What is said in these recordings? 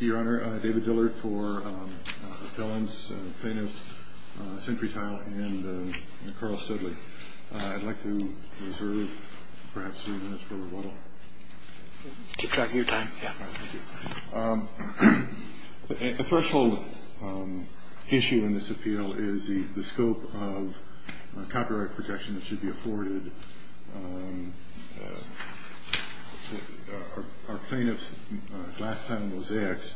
Your Honor, David Dillard for appellants, plaintiffs, Century Tile, and Carl Studley. I'd like to reserve perhaps three minutes for rebuttal. Keep track of your time, yeah. Thank you. The threshold issue in this appeal is the scope of copyright protection that should be afforded. Our plaintiffs, Glass Tile and Mosaics,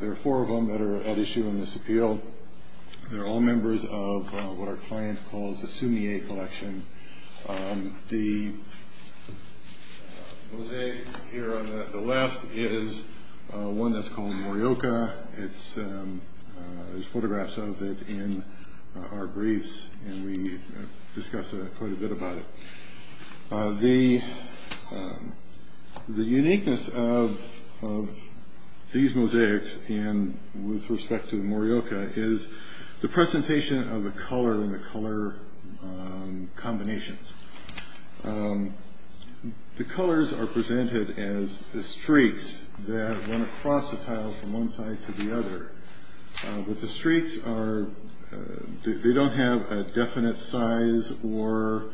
there are four of them that are at issue in this appeal. They're all members of what our client calls the Sumier Collection. The mosaic here on the left is one that's called Morioka. There's photographs of it in our briefs, and we discuss quite a bit about it. The uniqueness of these mosaics with respect to Morioka is the presentation of the color and the color combinations. The colors are presented as the streaks that run across the tile from one side to the other. But the streaks, they don't have a definite size or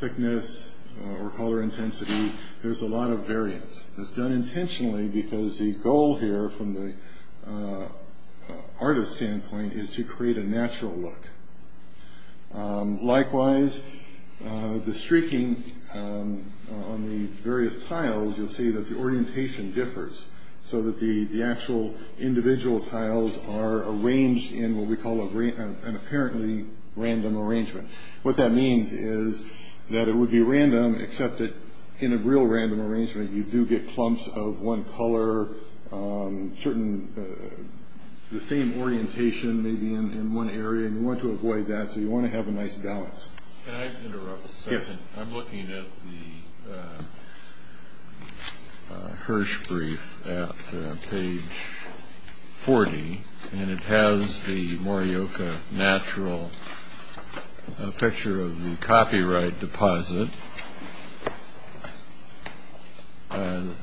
thickness or color intensity. There's a lot of variance. It's done intentionally because the goal here from the artist's standpoint is to create a natural look. Likewise, the streaking on the various tiles, you'll see that the orientation differs, so that the actual individual tiles are arranged in what we call an apparently random arrangement. What that means is that it would be random, except that in a real random arrangement, you do get clumps of one color, the same orientation maybe in one area, and you want to avoid that, so you want to have a nice balance. Can I interrupt a second? Yes. I'm looking at the Hirsch brief at page 40, and it has the Morioka natural picture of the copyright deposit, and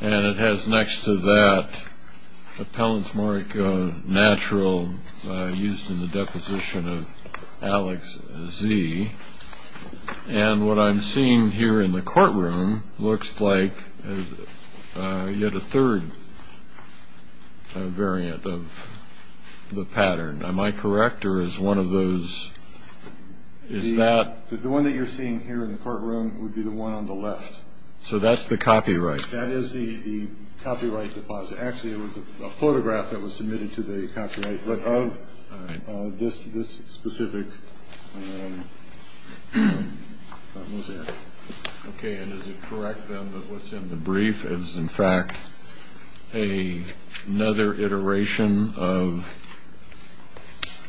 it has next to that a Pellens-Morioka natural used in the deposition of Alex Z. And what I'm seeing here in the courtroom looks like yet a third variant of the pattern. Am I correct, or is one of those, is that? The one that you're seeing here in the courtroom would be the one on the left. So that's the copyright? That is the copyright deposit. Actually, it was a photograph that was submitted to the copyright, but of this specific mosaic. Okay, and is it correct, then, that what's in the brief is, in fact, another iteration of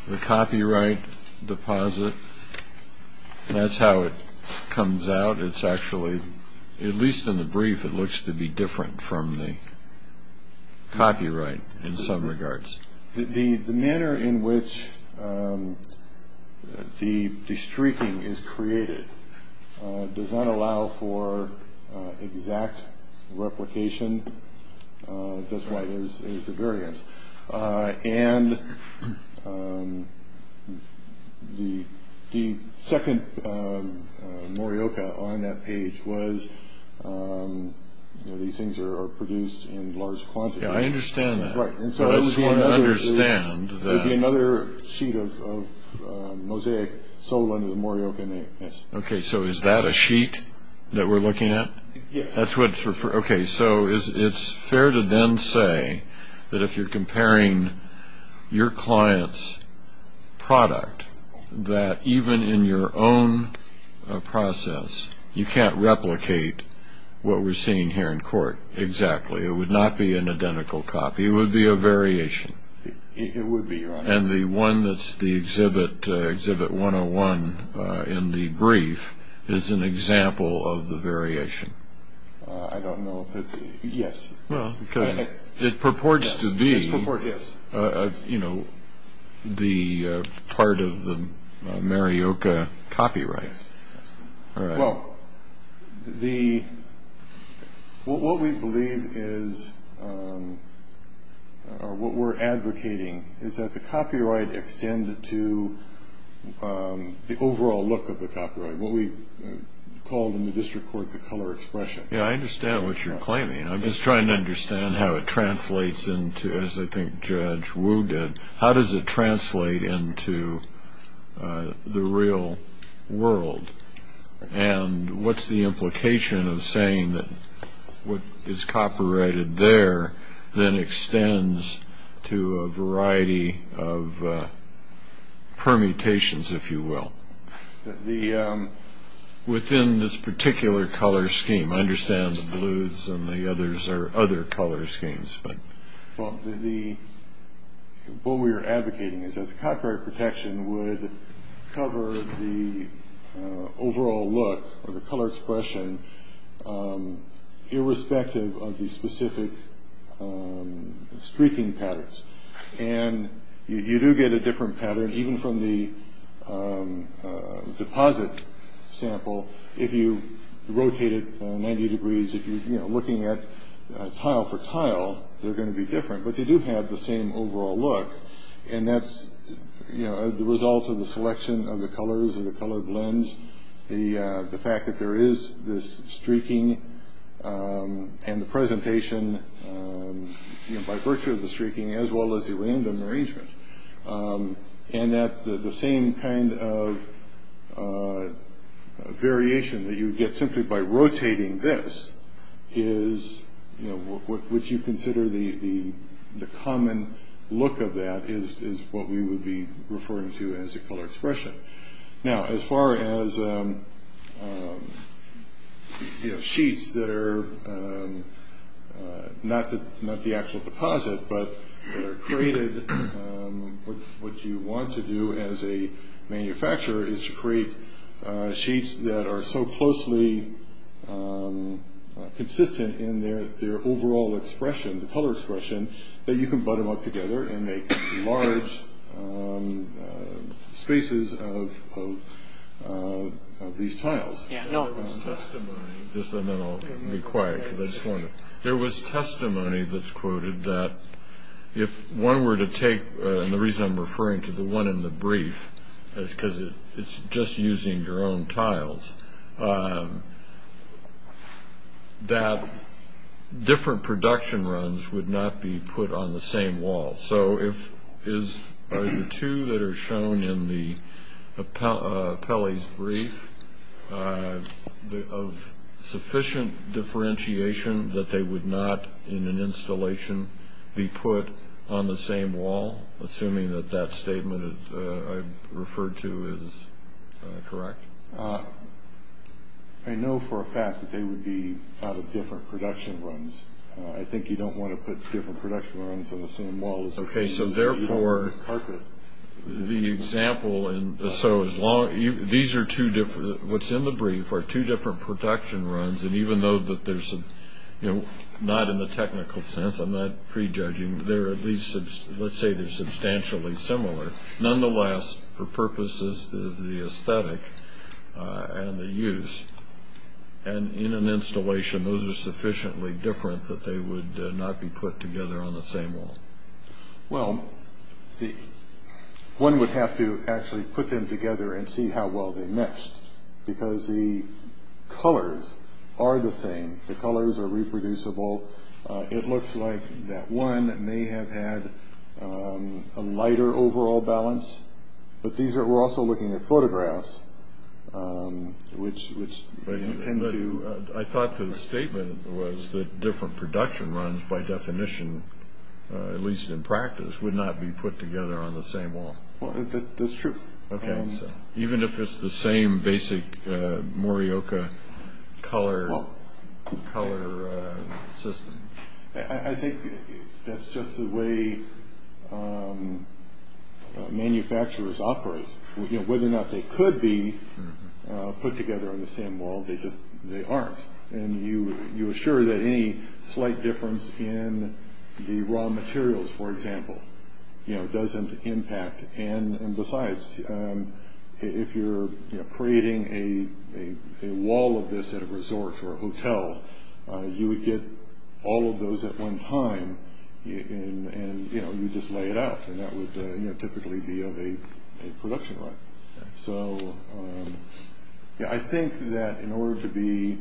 the copyright deposit? That's how it comes out. It's actually, at least in the brief, it looks to be different from the copyright in some regards. The manner in which the streaking is created does not allow for exact replication. That's why there's a variance. And the second Morioka on that page was, you know, these things are produced in large quantities. Yeah, I understand that. Right, and so I just want to understand that. There would be another sheet of mosaic sold under the Morioka name. Okay, so is that a sheet that we're looking at? Yes. Okay, so it's fair to then say that if you're comparing your client's product, that even in your own process you can't replicate what we're seeing here in court exactly. It would not be an identical copy. It would be a variation. It would be. And the one that's the Exhibit 101 in the brief is an example of the variation. I don't know if it's – yes. It purports to be, you know, the part of the Morioka copyright. Well, what we believe is or what we're advocating is that the copyright extend to the overall look of the copyright, what we call in the district court the color expression. Yeah, I understand what you're claiming. I'm just trying to understand how it translates into, as I think Judge Wu did, how does it translate into the real world? And what's the implication of saying that what is copyrighted there then extends to a variety of permutations, if you will, within this particular color scheme? I understand the blues and the others are other color schemes. Well, what we are advocating is that the copyright protection would cover the overall look or the color expression irrespective of the specific streaking patterns. And you do get a different pattern even from the deposit sample if you rotate it 90 degrees. If you're looking at tile for tile, they're going to be different, but they do have the same overall look. And that's the result of the selection of the colors and the color blends, the fact that there is this streaking and the presentation by virtue of the streaking, as well as the random arrangement. And that the same kind of variation that you get simply by rotating this is what you consider the common look of that is what we would be referring to as a color expression. Now, as far as sheets that are not the actual deposit, but that are created, what you want to do as a manufacturer is to create sheets that are so closely consistent in their overall expression, the color expression, that you can butt them up together and make large spaces of these tiles. There was testimony that's quoted that if one were to take, and the reason I'm referring to the one in the brief is because it's just using your own tiles, that different production runs would not be put on the same wall. So are the two that are shown in Pelley's brief of sufficient differentiation that they would not in an installation be put on the same wall, assuming that that statement I referred to is correct? I know for a fact that they would be out of different production runs. I think you don't want to put different production runs on the same wall. Okay, so therefore, the example, so these are two different, what's in the brief are two different production runs, and even though that there's not in the technical sense, I'm not prejudging, they're at least, let's say they're substantially similar. Nonetheless, for purposes of the aesthetic and the use, and in an installation those are sufficiently different that they would not be put together on the same wall. Well, one would have to actually put them together and see how well they matched, because the colors are the same. The colors are reproducible. It looks like that one may have had a lighter overall balance, but we're also looking at photographs, which tend to… I thought the statement was that different production runs, by definition, at least in practice, would not be put together on the same wall. That's true. Even if it's the same basic Morioka color system? I think that's just the way manufacturers operate. Whether or not they could be put together on the same wall, they aren't, and you assure that any slight difference in the raw materials, for example, doesn't impact, and besides, if you're creating a wall of this at a resort or a hotel, you would get all of those at one time, and you'd just lay it out, and that would typically be of a production run. So I think that in order to be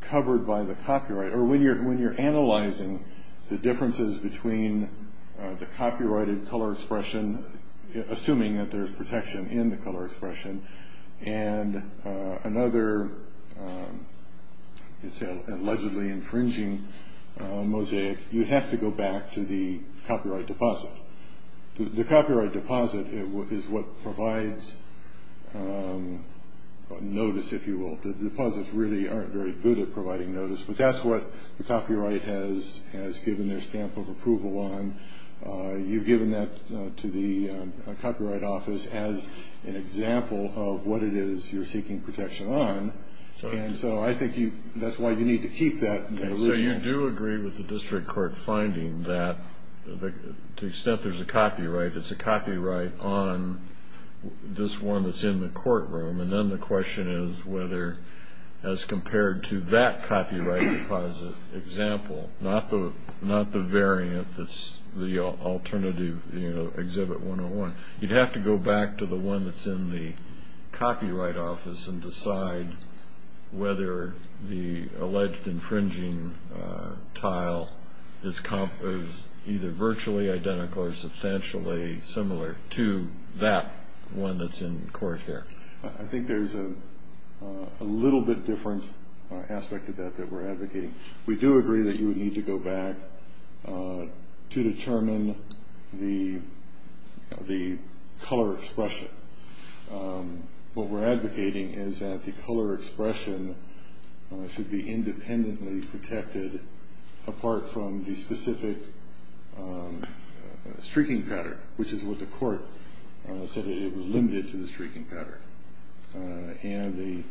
covered by the copyright, or when you're analyzing the differences between the copyrighted color expression, assuming that there's protection in the color expression, and another allegedly infringing mosaic, you'd have to go back to the copyright deposit. The copyright deposit is what provides notice, if you will. The deposits really aren't very good at providing notice, but that's what the copyright has given their stamp of approval on. You've given that to the copyright office as an example of what it is you're seeking protection on, and so I think that's why you need to keep that original. So you do agree with the district court finding that to the extent there's a copyright, it's a copyright on this one that's in the courtroom, and then the question is whether as compared to that copyright deposit example, not the variant that's the alternative exhibit 101, you'd have to go back to the one that's in the copyright office and decide whether the alleged infringing tile is either virtually identical or substantially similar to that one that's in court here. I think there's a little bit different aspect of that that we're advocating. We do agree that you would need to go back to determine the color expression. What we're advocating is that the color expression should be independently protected apart from the specific streaking pattern, which is what the court said it was limited to the streaking pattern and the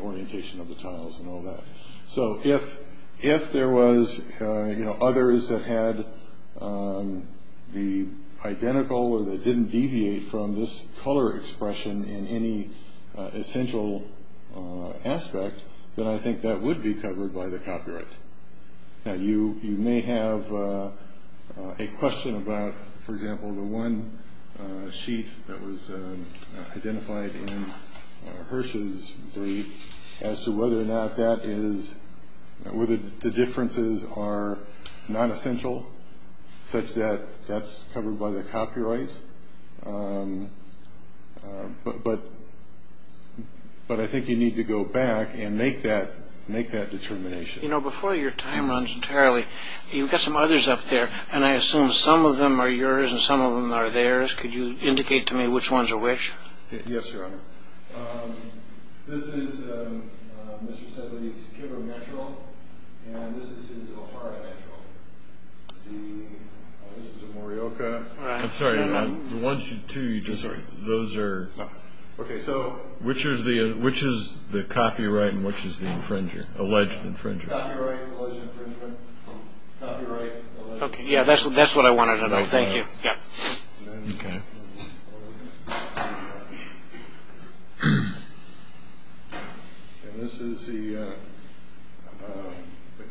orientation of the tiles and all that. So if there was others that had the identical or that didn't deviate from this color expression in any essential aspect, then I think that would be covered by the copyright. Now, you may have a question about, for example, the one sheet that was identified in Hersh's brief as to whether or not that is, whether the differences are not essential such that that's covered by the copyright, but I think you need to go back and make that determination. You know, before your time runs entirely, you've got some others up there, and I assume some of them are yours and some of them are theirs. Could you indicate to me which ones are which? Yes, Your Honor. This is Mr. Steadley's Kimber Metro, and this is his O'Hara Metro. This is a Morioka. I'm sorry. The ones, too, you just, those are. Okay, so. Which is the copyright and which is the infringer, alleged infringer? Copyright, alleged infringement. Copyright, alleged infringement. Okay, yeah, that's what I wanted to know. Thank you. Yeah. Okay. And this is the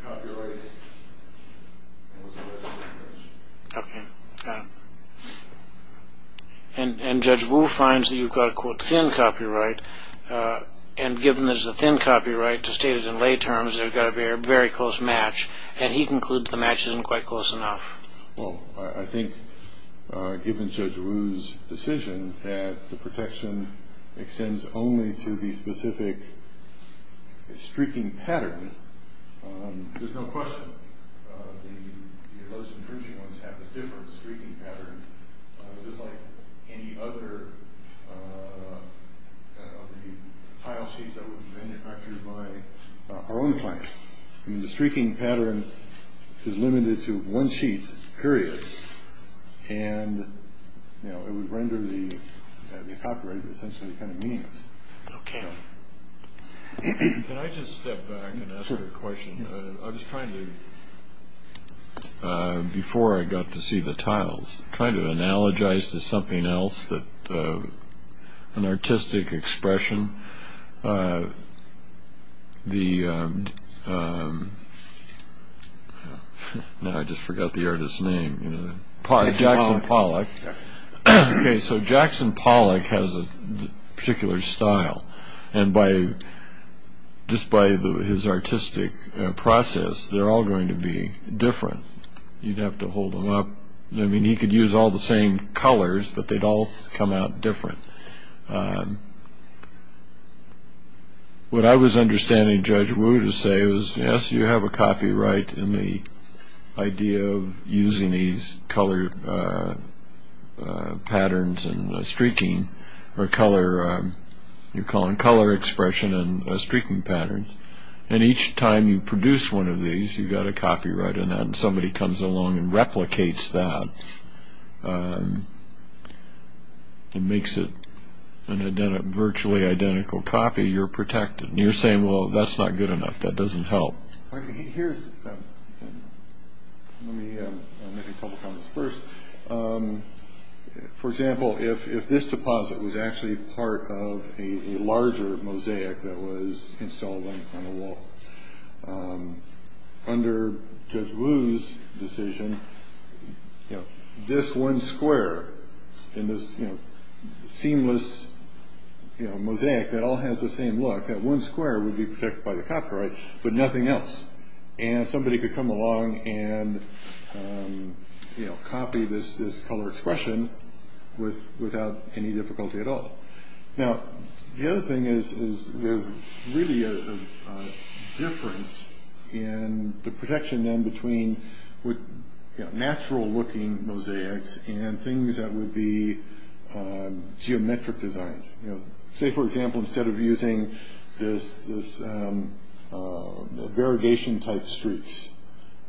copyright. Okay, got it. And Judge Wu finds that you've got a, quote, thin copyright, and given there's a thin copyright to state it in lay terms, they've got a very close match, and he concludes the match isn't quite close enough. Well, I think given Judge Wu's decision that the protection extends only to the specific streaking pattern, there's no question the alleged infringing ones have a different streaking pattern, just like any other of the tile sheets that were manufactured by our own client. The streaking pattern is limited to one sheet, period, and it would render the copyright essentially kind of meaningless. Okay. Can I just step back and ask a question? I was trying to, before I got to see the tiles, trying to analogize to something else, an artistic expression. The, now I just forgot the artist's name. Jackson Pollock. Okay, so Jackson Pollock has a particular style, and just by his artistic process, they're all going to be different. You'd have to hold them up. I mean, he could use all the same colors, but they'd all come out different. What I was understanding Judge Wu to say was, yes, you have a copyright in the idea of using these color patterns and streaking, or color, you're calling color expression and streaking patterns, and each time you produce one of these, you've got a copyright on that, and somebody comes along and replicates that and makes it a virtually identical copy, you're protected, and you're saying, well, that's not good enough, that doesn't help. Here's, let me make a couple comments. First, for example, if this deposit was actually part of a larger mosaic that was installed on the wall, under Judge Wu's decision, this one square in this seamless mosaic, that all has the same look, that one square would be protected by the copyright, but nothing else, and somebody could come along and copy this color expression without any difficulty at all. Now, the other thing is there's really a difference in the protection, then, between natural-looking mosaics and things that would be geometric designs. Say, for example, instead of using this variegation-type streaks,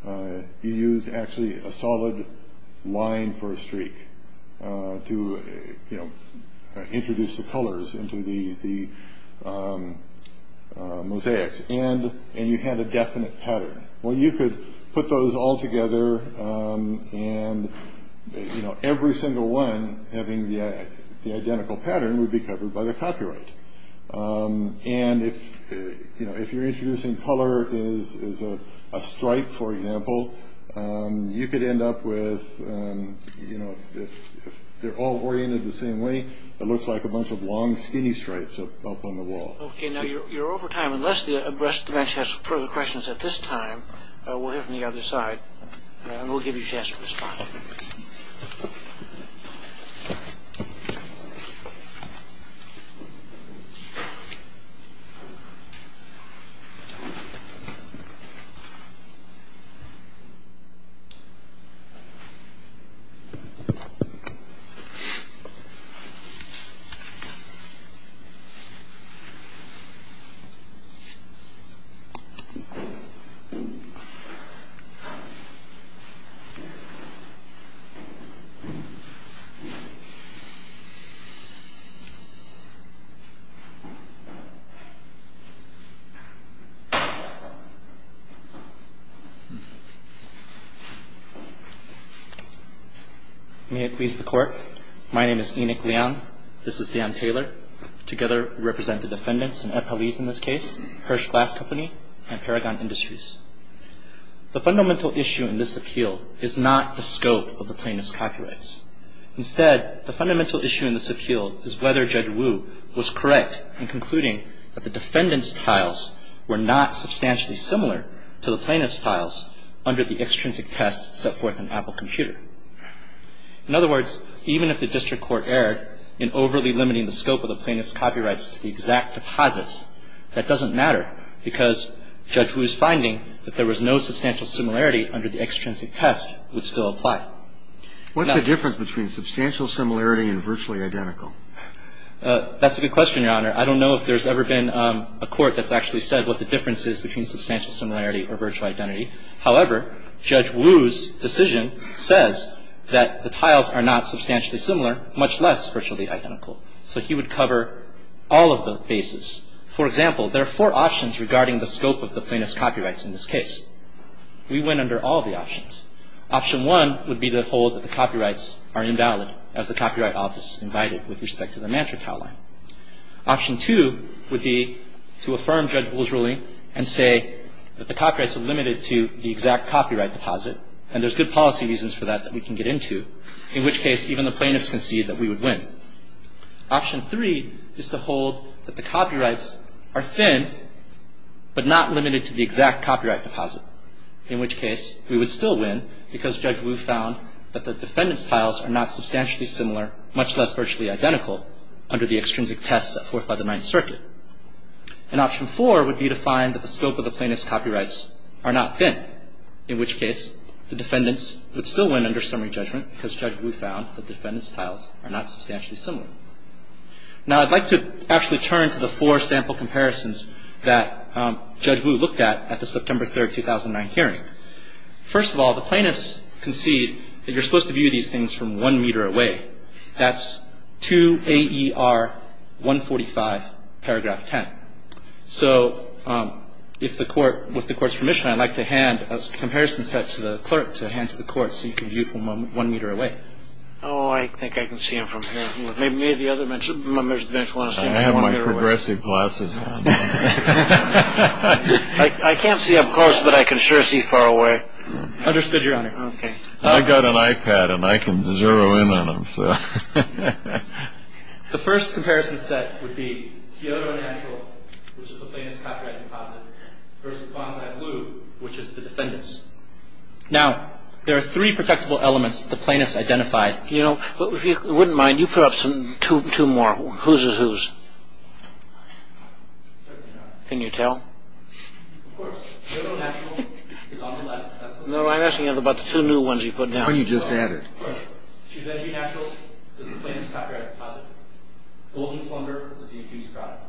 you used, actually, a solid line for a streak to introduce the colors into the mosaics, and you had a definite pattern. Well, you could put those all together, and every single one having the identical pattern would be covered by the copyright. And if you're introducing color as a stripe, for example, you could end up with, if they're all oriented the same way, it looks like a bunch of long, skinny stripes up on the wall. Okay, now, you're over time. Unless the rest of the bench has further questions at this time, we'll hear from the other side, and we'll give you a chance to respond. Okay. May it please the Court. My name is Enoch Leong. This is Dan Taylor. Together, we represent the defendants in Epelese in this case, Hirsch Glass Company, and Paragon Industries. The fundamental issue in this appeal is not the scope of the plaintiff's copyrights. Instead, the fundamental issue in this appeal is whether Judge Wu was correct in his assessment of the plaintiff's copyrights. In other words, even if the district court erred in overly limiting the scope of the plaintiff's copyrights to the exact deposits, that doesn't matter, because Judge Wu's finding that there was no substantial similarity under the extrinsic test would still apply. What's the difference between substantial similarity and virtually identical? That's a good question, Your Honor. I don't know if there's ever been a court that's actually said what the difference is between substantial similarity or virtual identity. However, Judge Wu's decision says that the tiles are not substantially similar, much less virtually identical. So he would cover all of the bases. For example, there are four options regarding the scope of the plaintiff's copyrights in this case. We went under all the options. Option one would be to hold that the copyrights are invalid, as the Copyright Office invited with respect to the Mantra Tile Line. Option two would be to affirm Judge Wu's ruling and say that the copyrights are limited to the exact copyright deposit, and there's good policy reasons for that that we can get into, in which case even the plaintiffs concede that we would win. Option three is to hold that the copyrights are thin, but not limited to the exact copyright deposit, in which case we would still win because Judge Wu found that the defendant's tiles are not substantially similar, much less virtually identical, under the extrinsic tests at Fourth by the Ninth Circuit. And option four would be to find that the scope of the plaintiff's copyrights are not thin, in which case the defendants would still win under summary judgment because Judge Wu found that the defendant's tiles are not substantially similar. Now, I'd like to actually turn to the four sample comparisons that Judge Wu looked at at the September 3, 2009 hearing. First of all, the plaintiffs concede that you're supposed to view these things from one meter away. That's 2 A.E.R. 145, paragraph 10. So if the Court, with the Court's permission, I'd like to hand a comparison set to the clerk to hand to the Court so you can view from one meter away. Oh, I think I can see them from here. May the other members of the bench want to see them from one meter away? I have my progressive glasses on. I can't see up close, but I can sure see far away. Understood, Your Honor. Okay. I've got an iPad and I can zero in on them. The first comparison set would be Kyoto Natural, which is the plaintiff's copyright deposit, versus Bonsai Blue, which is the defendant's. Now, there are three protectable elements the plaintiffs identified. If you wouldn't mind, you put up two more. Whose is whose? Can you tell? Of course. Kyoto Natural is on the left. No, I'm asking about the two new ones you put down. Oh, you just added. Kyoto Natural is the plaintiff's copyright deposit. Golden Slumber is the accused product.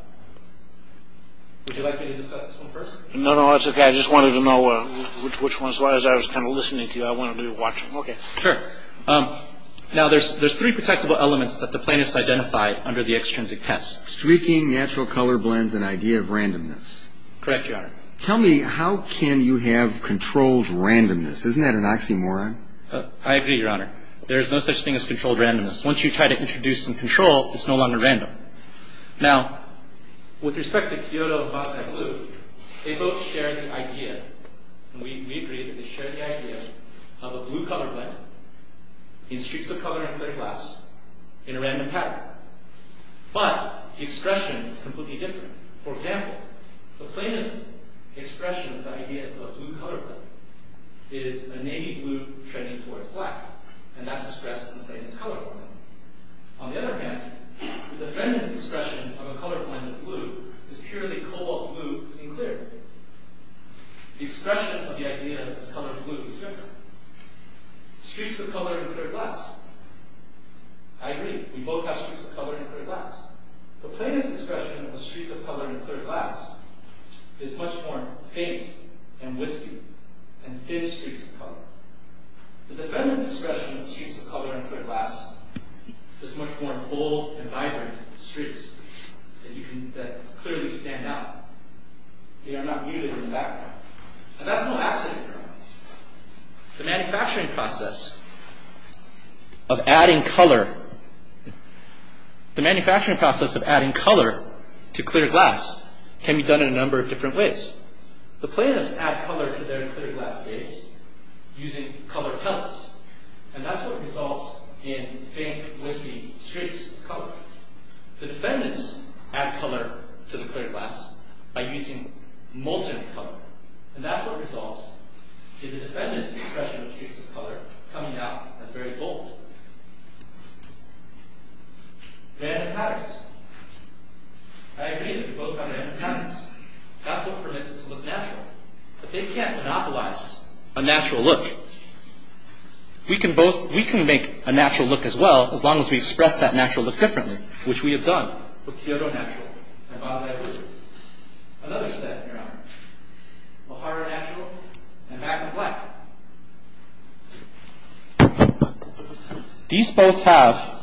Would you like me to discuss this one first? No, no, that's okay. I just wanted to know which one. As long as I was kind of listening to you, I wanted to be watching. Okay. Sure. Now, there's three protectable elements that the plaintiffs identified under the extrinsic test. Streaking, natural color blends, and idea of randomness. Correct, Your Honor. Tell me, how can you have controlled randomness? Isn't that an oxymoron? I agree, Your Honor. There is no such thing as controlled randomness. Once you try to introduce some control, it's no longer random. Now, with respect to Kyoto and Bonsai Blue, they both share the idea, and we agree that they share the idea of a blue color blend in streaks of color in clear glass in a random pattern. But the expression is completely different. For example, the plaintiff's expression of the idea of a blue color blend is a navy blue treading towards black, and that's expressed in the plaintiff's color blend. On the other hand, the defendant's expression of a color blend of blue is purely cobalt blue in clear. The expression of the idea of the color blue is different. Streaks of color in clear glass. I agree. We both have streaks of color in clear glass. The plaintiff's expression of a streak of color in clear glass is much more faint and wispy and thin streaks of color. The defendant's expression of streaks of color in clear glass is much more bold and vibrant streaks that clearly stand out. They are not muted in the background. And that's no accident. The manufacturing process of adding color to clear glass can be done in a number of different ways. The plaintiffs add color to their clear glass glaze using color pellets, and that's what results in faint, wispy streaks of color. The defendants add color to the clear glass by using molten color, and that's what results in the defendants' expression of streaks of color coming out as very bold. Random patterns. I agree that we both have random patterns. That's what permits it to look natural. But they can't monopolize a natural look. We can make a natural look as well which we have done with Kyoto Natural and Basai Furniture. Another set, Your Honor. Lahara Natural and Magnum Black. These both have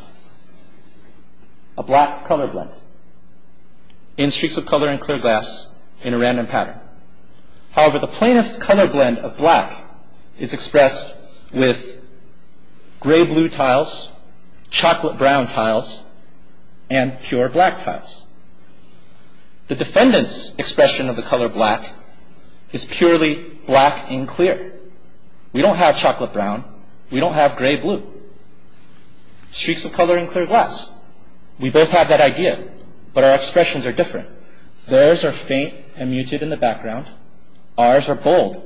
a black color blend in streaks of color in clear glass in a random pattern. However, the plaintiff's color blend of black is expressed with gray-blue tiles, chocolate brown tiles, and pure black tiles. The defendant's expression of the color black is purely black and clear. We don't have chocolate brown. We don't have gray-blue. Streaks of color in clear glass. We both have that idea, but our expressions are different. Theirs are faint and muted in the background. Ours are bold,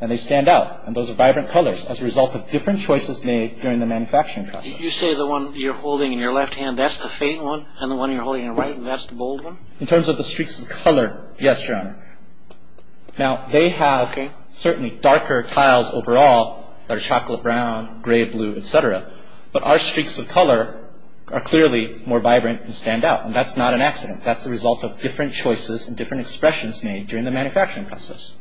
and they stand out, and those are vibrant colors as a result of different choices made during the manufacturing process. Did you say the one you're holding in your left hand, that's the faint one, and the one you're holding in your right hand, that's the bold one? In terms of the streaks of color, yes, Your Honor. Now, they have certainly darker tiles overall that are chocolate brown, gray-blue, et cetera, but our streaks of color are clearly more vibrant and stand out, and that's not an accident. That's the result of different choices and different expressions made during the manufacturing process.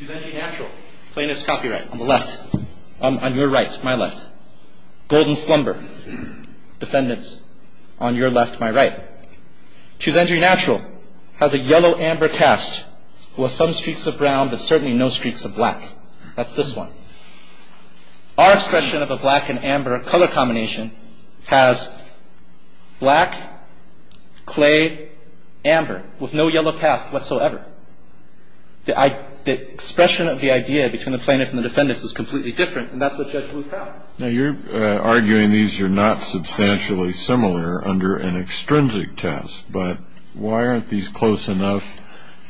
Chusengi Natural, plaintiff's copyright, on the left. On your right, my left. Golden Slumber. Defendants, on your left, my right. Chusengi Natural has a yellow-amber cast with some streaks of brown, but certainly no streaks of black. That's this one. Our expression of a black-and-amber color combination has black, clay, amber, with no yellow cast whatsoever. The expression of the idea between the plaintiff and the defendants is completely different, and that's what Judge Bluth found. Now, you're arguing these are not substantially similar under an extrinsic test, but why aren't these close enough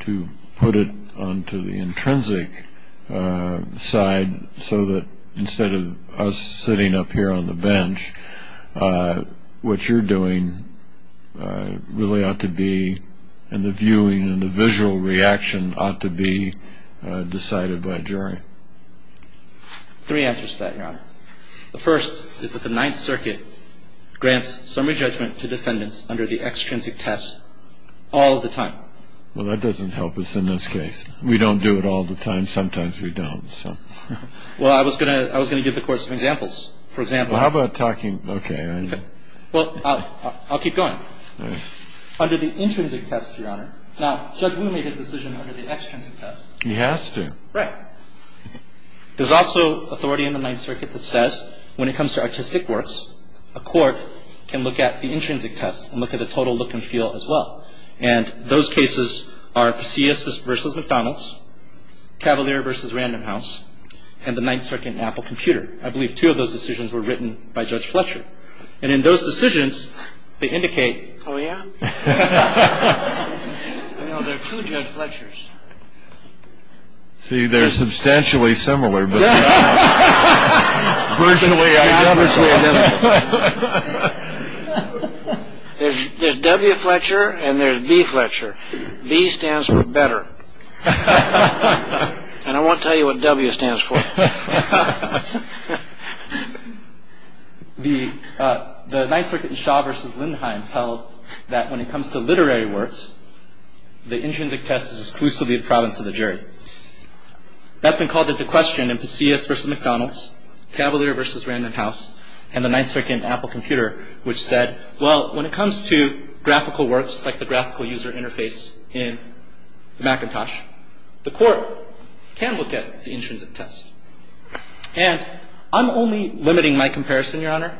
to put it onto the intrinsic side so that instead of us sitting up here on the bench, what you're doing really ought to be, and the viewing and the visual reaction ought to be decided by jury. Three answers to that, Your Honor. The first is that the Ninth Circuit grants summary judgment to defendants under the extrinsic test all the time. Well, that doesn't help us in this case. We don't do it all the time. Sometimes we don't, so. Well, I was going to give the Court some examples. For example... Well, how about talking... Okay. Well, I'll keep going. All right. Under the intrinsic test, Your Honor... Now, Judge Wu made his decision under the extrinsic test. He has to. Right. There's also authority in the Ninth Circuit that says when it comes to artistic works, a court can look at the intrinsic test and look at the total look and feel as well. And those cases are C.S. v. McDonald's, Cavalier v. Random House, and the Ninth Circuit in Apple Computer. I believe two of those decisions were written by Judge Fletcher. And in those decisions, they indicate... Oh, yeah? No, there are two Judge Fletchers. See, they're substantially similar, but... Substantially identical. There's W. Fletcher, and there's B. Fletcher. B stands for better. And I won't tell you what W stands for. The Ninth Circuit in Shaw v. Lindheim held that when it comes to literary works, the intrinsic test is exclusively the province of the jury. That's been called into question in C.S. v. McDonald's, Cavalier v. Random House, and the Ninth Circuit in Apple Computer, which said, well, when it comes to graphical works like the graphical user interface in Macintosh, the court can look at the intrinsic test. And I'm only limiting my comparison, Your Honor,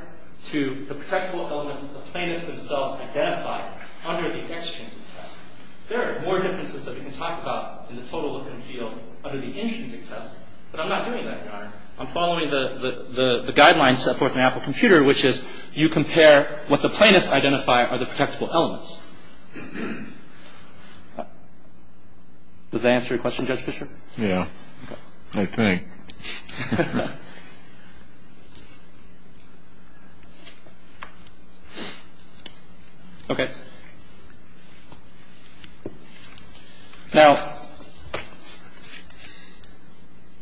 to the practical elements the plaintiffs themselves identified under the extrinsic test. There are more differences that we can talk about in the total look and feel under the intrinsic test, but I'm not doing that, Your Honor. I'm following the guidelines set forth in Apple Computer, which is you compare what the plaintiffs identify are the protectable elements. Does that answer your question, Judge Fischer? Yeah. Okay. I think. Okay. Now,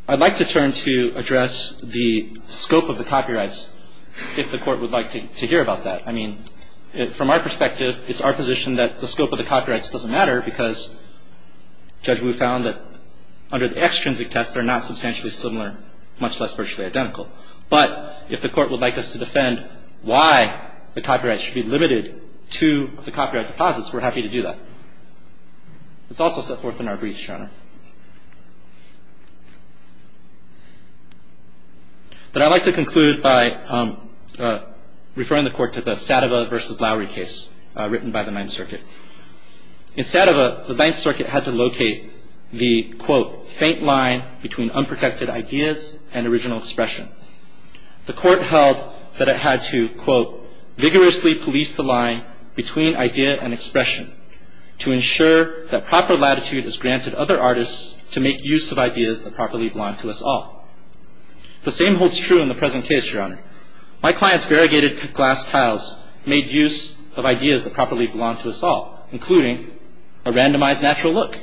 I'd like to turn to address the scope of the copyrights, if the Court would like to hear about that. I mean, from our perspective, it's our position that the scope of the copyrights doesn't matter because Judge Wu found that under the extrinsic test, they're not substantially similar, much less virtually identical. But if the Court would like us to defend why the copyrights should be limited to the copyright deposits, we're happy to do that. It's also set forth in our briefs, Your Honor. But I'd like to conclude by referring the Court to the Sadova v. Lowry case written by the Ninth Circuit. In Sadova, the Ninth Circuit had to locate the, quote, faint line between unprotected ideas and original expression. The Court held that it had to, quote, vigorously police the line between idea and expression to ensure that proper latitude is granted other artists to make use of ideas that properly belong to us all. The same holds true in the present case, Your Honor. My client's variegated glass tiles made use of ideas that properly belong to us all, including a randomized natural look.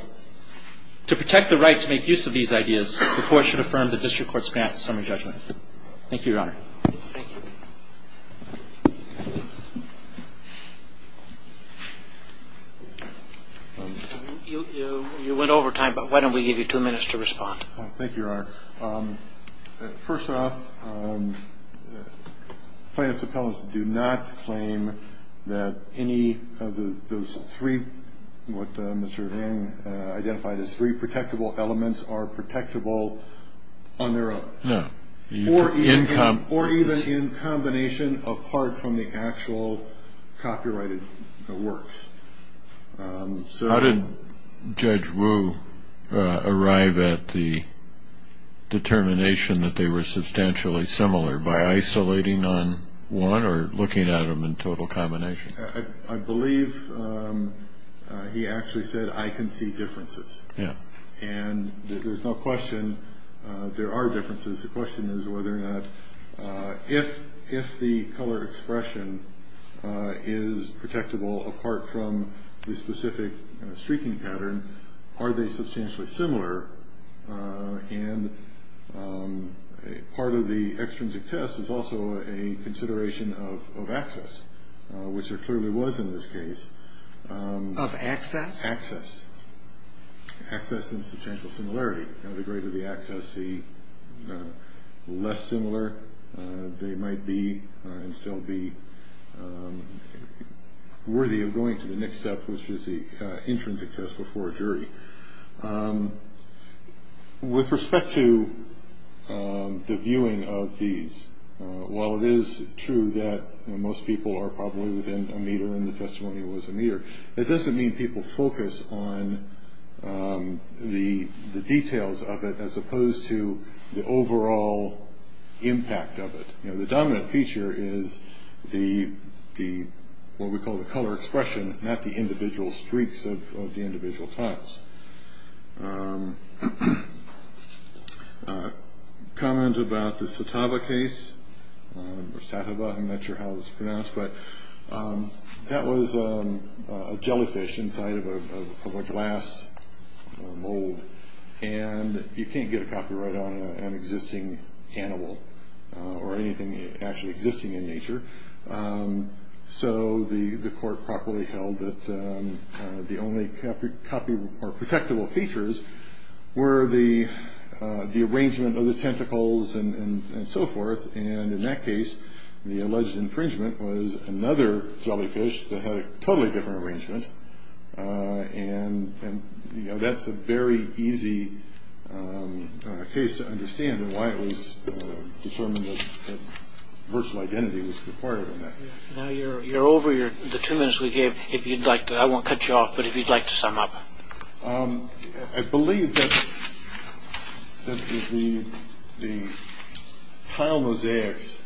To protect the right to make use of these ideas, the Court should affirm the district court's grant to summary judgment. Thank you, Your Honor. Thank you. You went over time, but why don't we give you two minutes to respond. Thank you, Your Honor. First off, plaintiffs' appellants do not claim that any of those three, what Mr. Heng identified as three protectable elements, are protectable on their own. No. Or even in combination apart from the actual copyrighted works. How did Judge Wu arrive at the determination that they were substantially similar, by isolating on one or looking at them in total combination? I believe he actually said, I can see differences. Yeah. And there's no question there are differences. The question is whether or not if the color expression is protectable apart from the specific streaking pattern, are they substantially similar? And part of the extrinsic test is also a consideration of access, which there clearly was in this case. Of access? Access. Access and substantial similarity. The greater the access, the less similar they might be and still be worthy of going to the next step, which is the intrinsic test before a jury. With respect to the viewing of these, while it is true that most people are probably within a meter and the testimony was a meter, it doesn't mean people focus on the details of it as opposed to the overall impact of it. The dominant feature is what we call the color expression, not the individual streaks of the individual tiles. Comment about the Satava case, or Satava, I'm not sure how it was pronounced, but that was a jellyfish inside of a glass mold, and you can't get a copyright on an existing animal or anything actually existing in nature. So the court properly held that the only copy or protectable features were the arrangement of the tentacles and so forth, and in that case the alleged infringement was another jellyfish that had a totally different arrangement, and that's a very easy case to understand why it was determined that virtual identity was required in that. Now you're over the two minutes we gave. I won't cut you off, but if you'd like to sum up. I believe that the tile mosaics,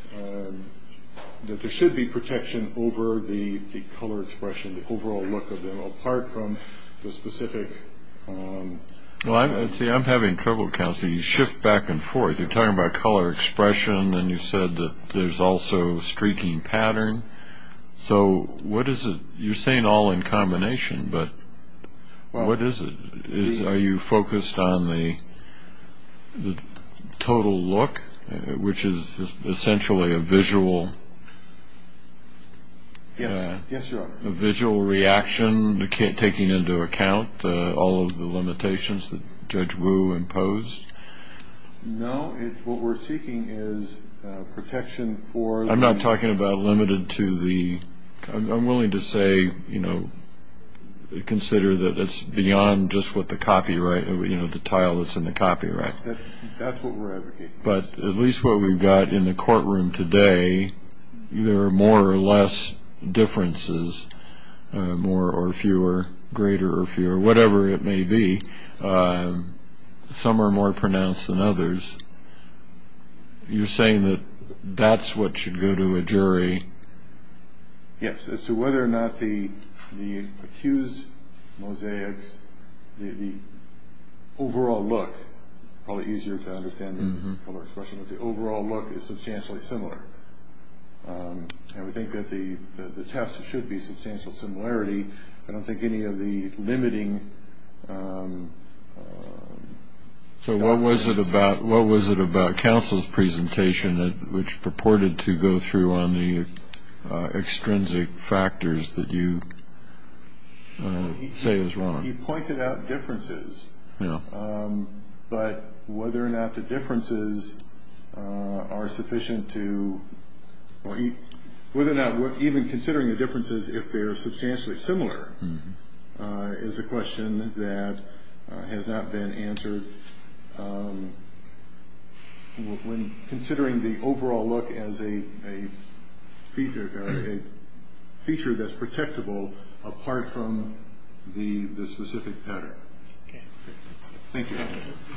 that there should be protection over the color expression, the overall look of them, apart from the specific... Well, see, I'm having trouble counting. You shift back and forth. You're talking about color expression, and you said that there's also streaking pattern. So what is it? You're saying all in combination, but what is it? Are you focused on the total look, which is essentially a visual reaction, taking into account all of the limitations that Judge Wu imposed? No, what we're seeking is protection for... I'm not talking about limited to the... I'm willing to say, you know, consider that it's beyond just what the copyright, you know, the tile that's in the copyright. That's what we're advocating. But at least what we've got in the courtroom today, there are more or less differences, more or fewer, greater or fewer, whatever it may be. Some are more pronounced than others. You're saying that that's what should go to a jury? Yes, as to whether or not the accused mosaics, the overall look, probably easier to understand than color expression, but the overall look is substantially similar. And we think that the test should be substantial similarity. I don't think any of the limiting... So what was it about counsel's presentation, which purported to go through on the extrinsic factors that you say is wrong? He pointed out differences, but whether or not the differences are sufficient to... has not been answered when considering the overall look as a feature that's protectable apart from the specific pattern. Okay. Thank you.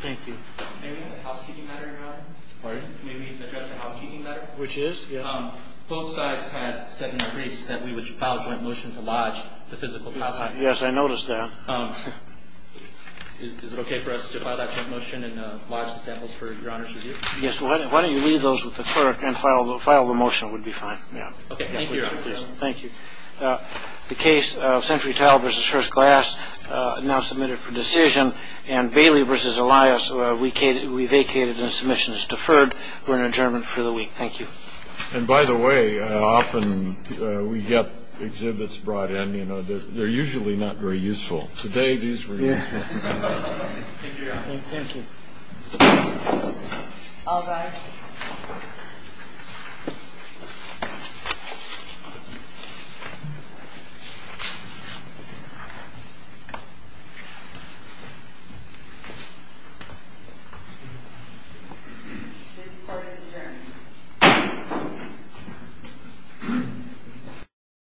Thank you. May we have the housekeeping matter now? Pardon? May we address the housekeeping matter? Which is? Both sides had said in the briefs that we would file a joint motion to lodge the physical... Yes, I noticed that. Is it okay for us to file that joint motion and lodge the samples for your honor's review? Yes. Why don't you leave those with the clerk and file the motion? It would be fine. Okay. Thank you. Thank you. The case of Century Tile versus First Glass, now submitted for decision, and Bailey versus Elias, we vacated and the submission is deferred. We're in adjournment for the week. Thank you. And by the way, often we get exhibits brought in. They're usually not very useful. Today it is very useful. Thank you, Your Honor. Thank you. All rise. This court is adjourned.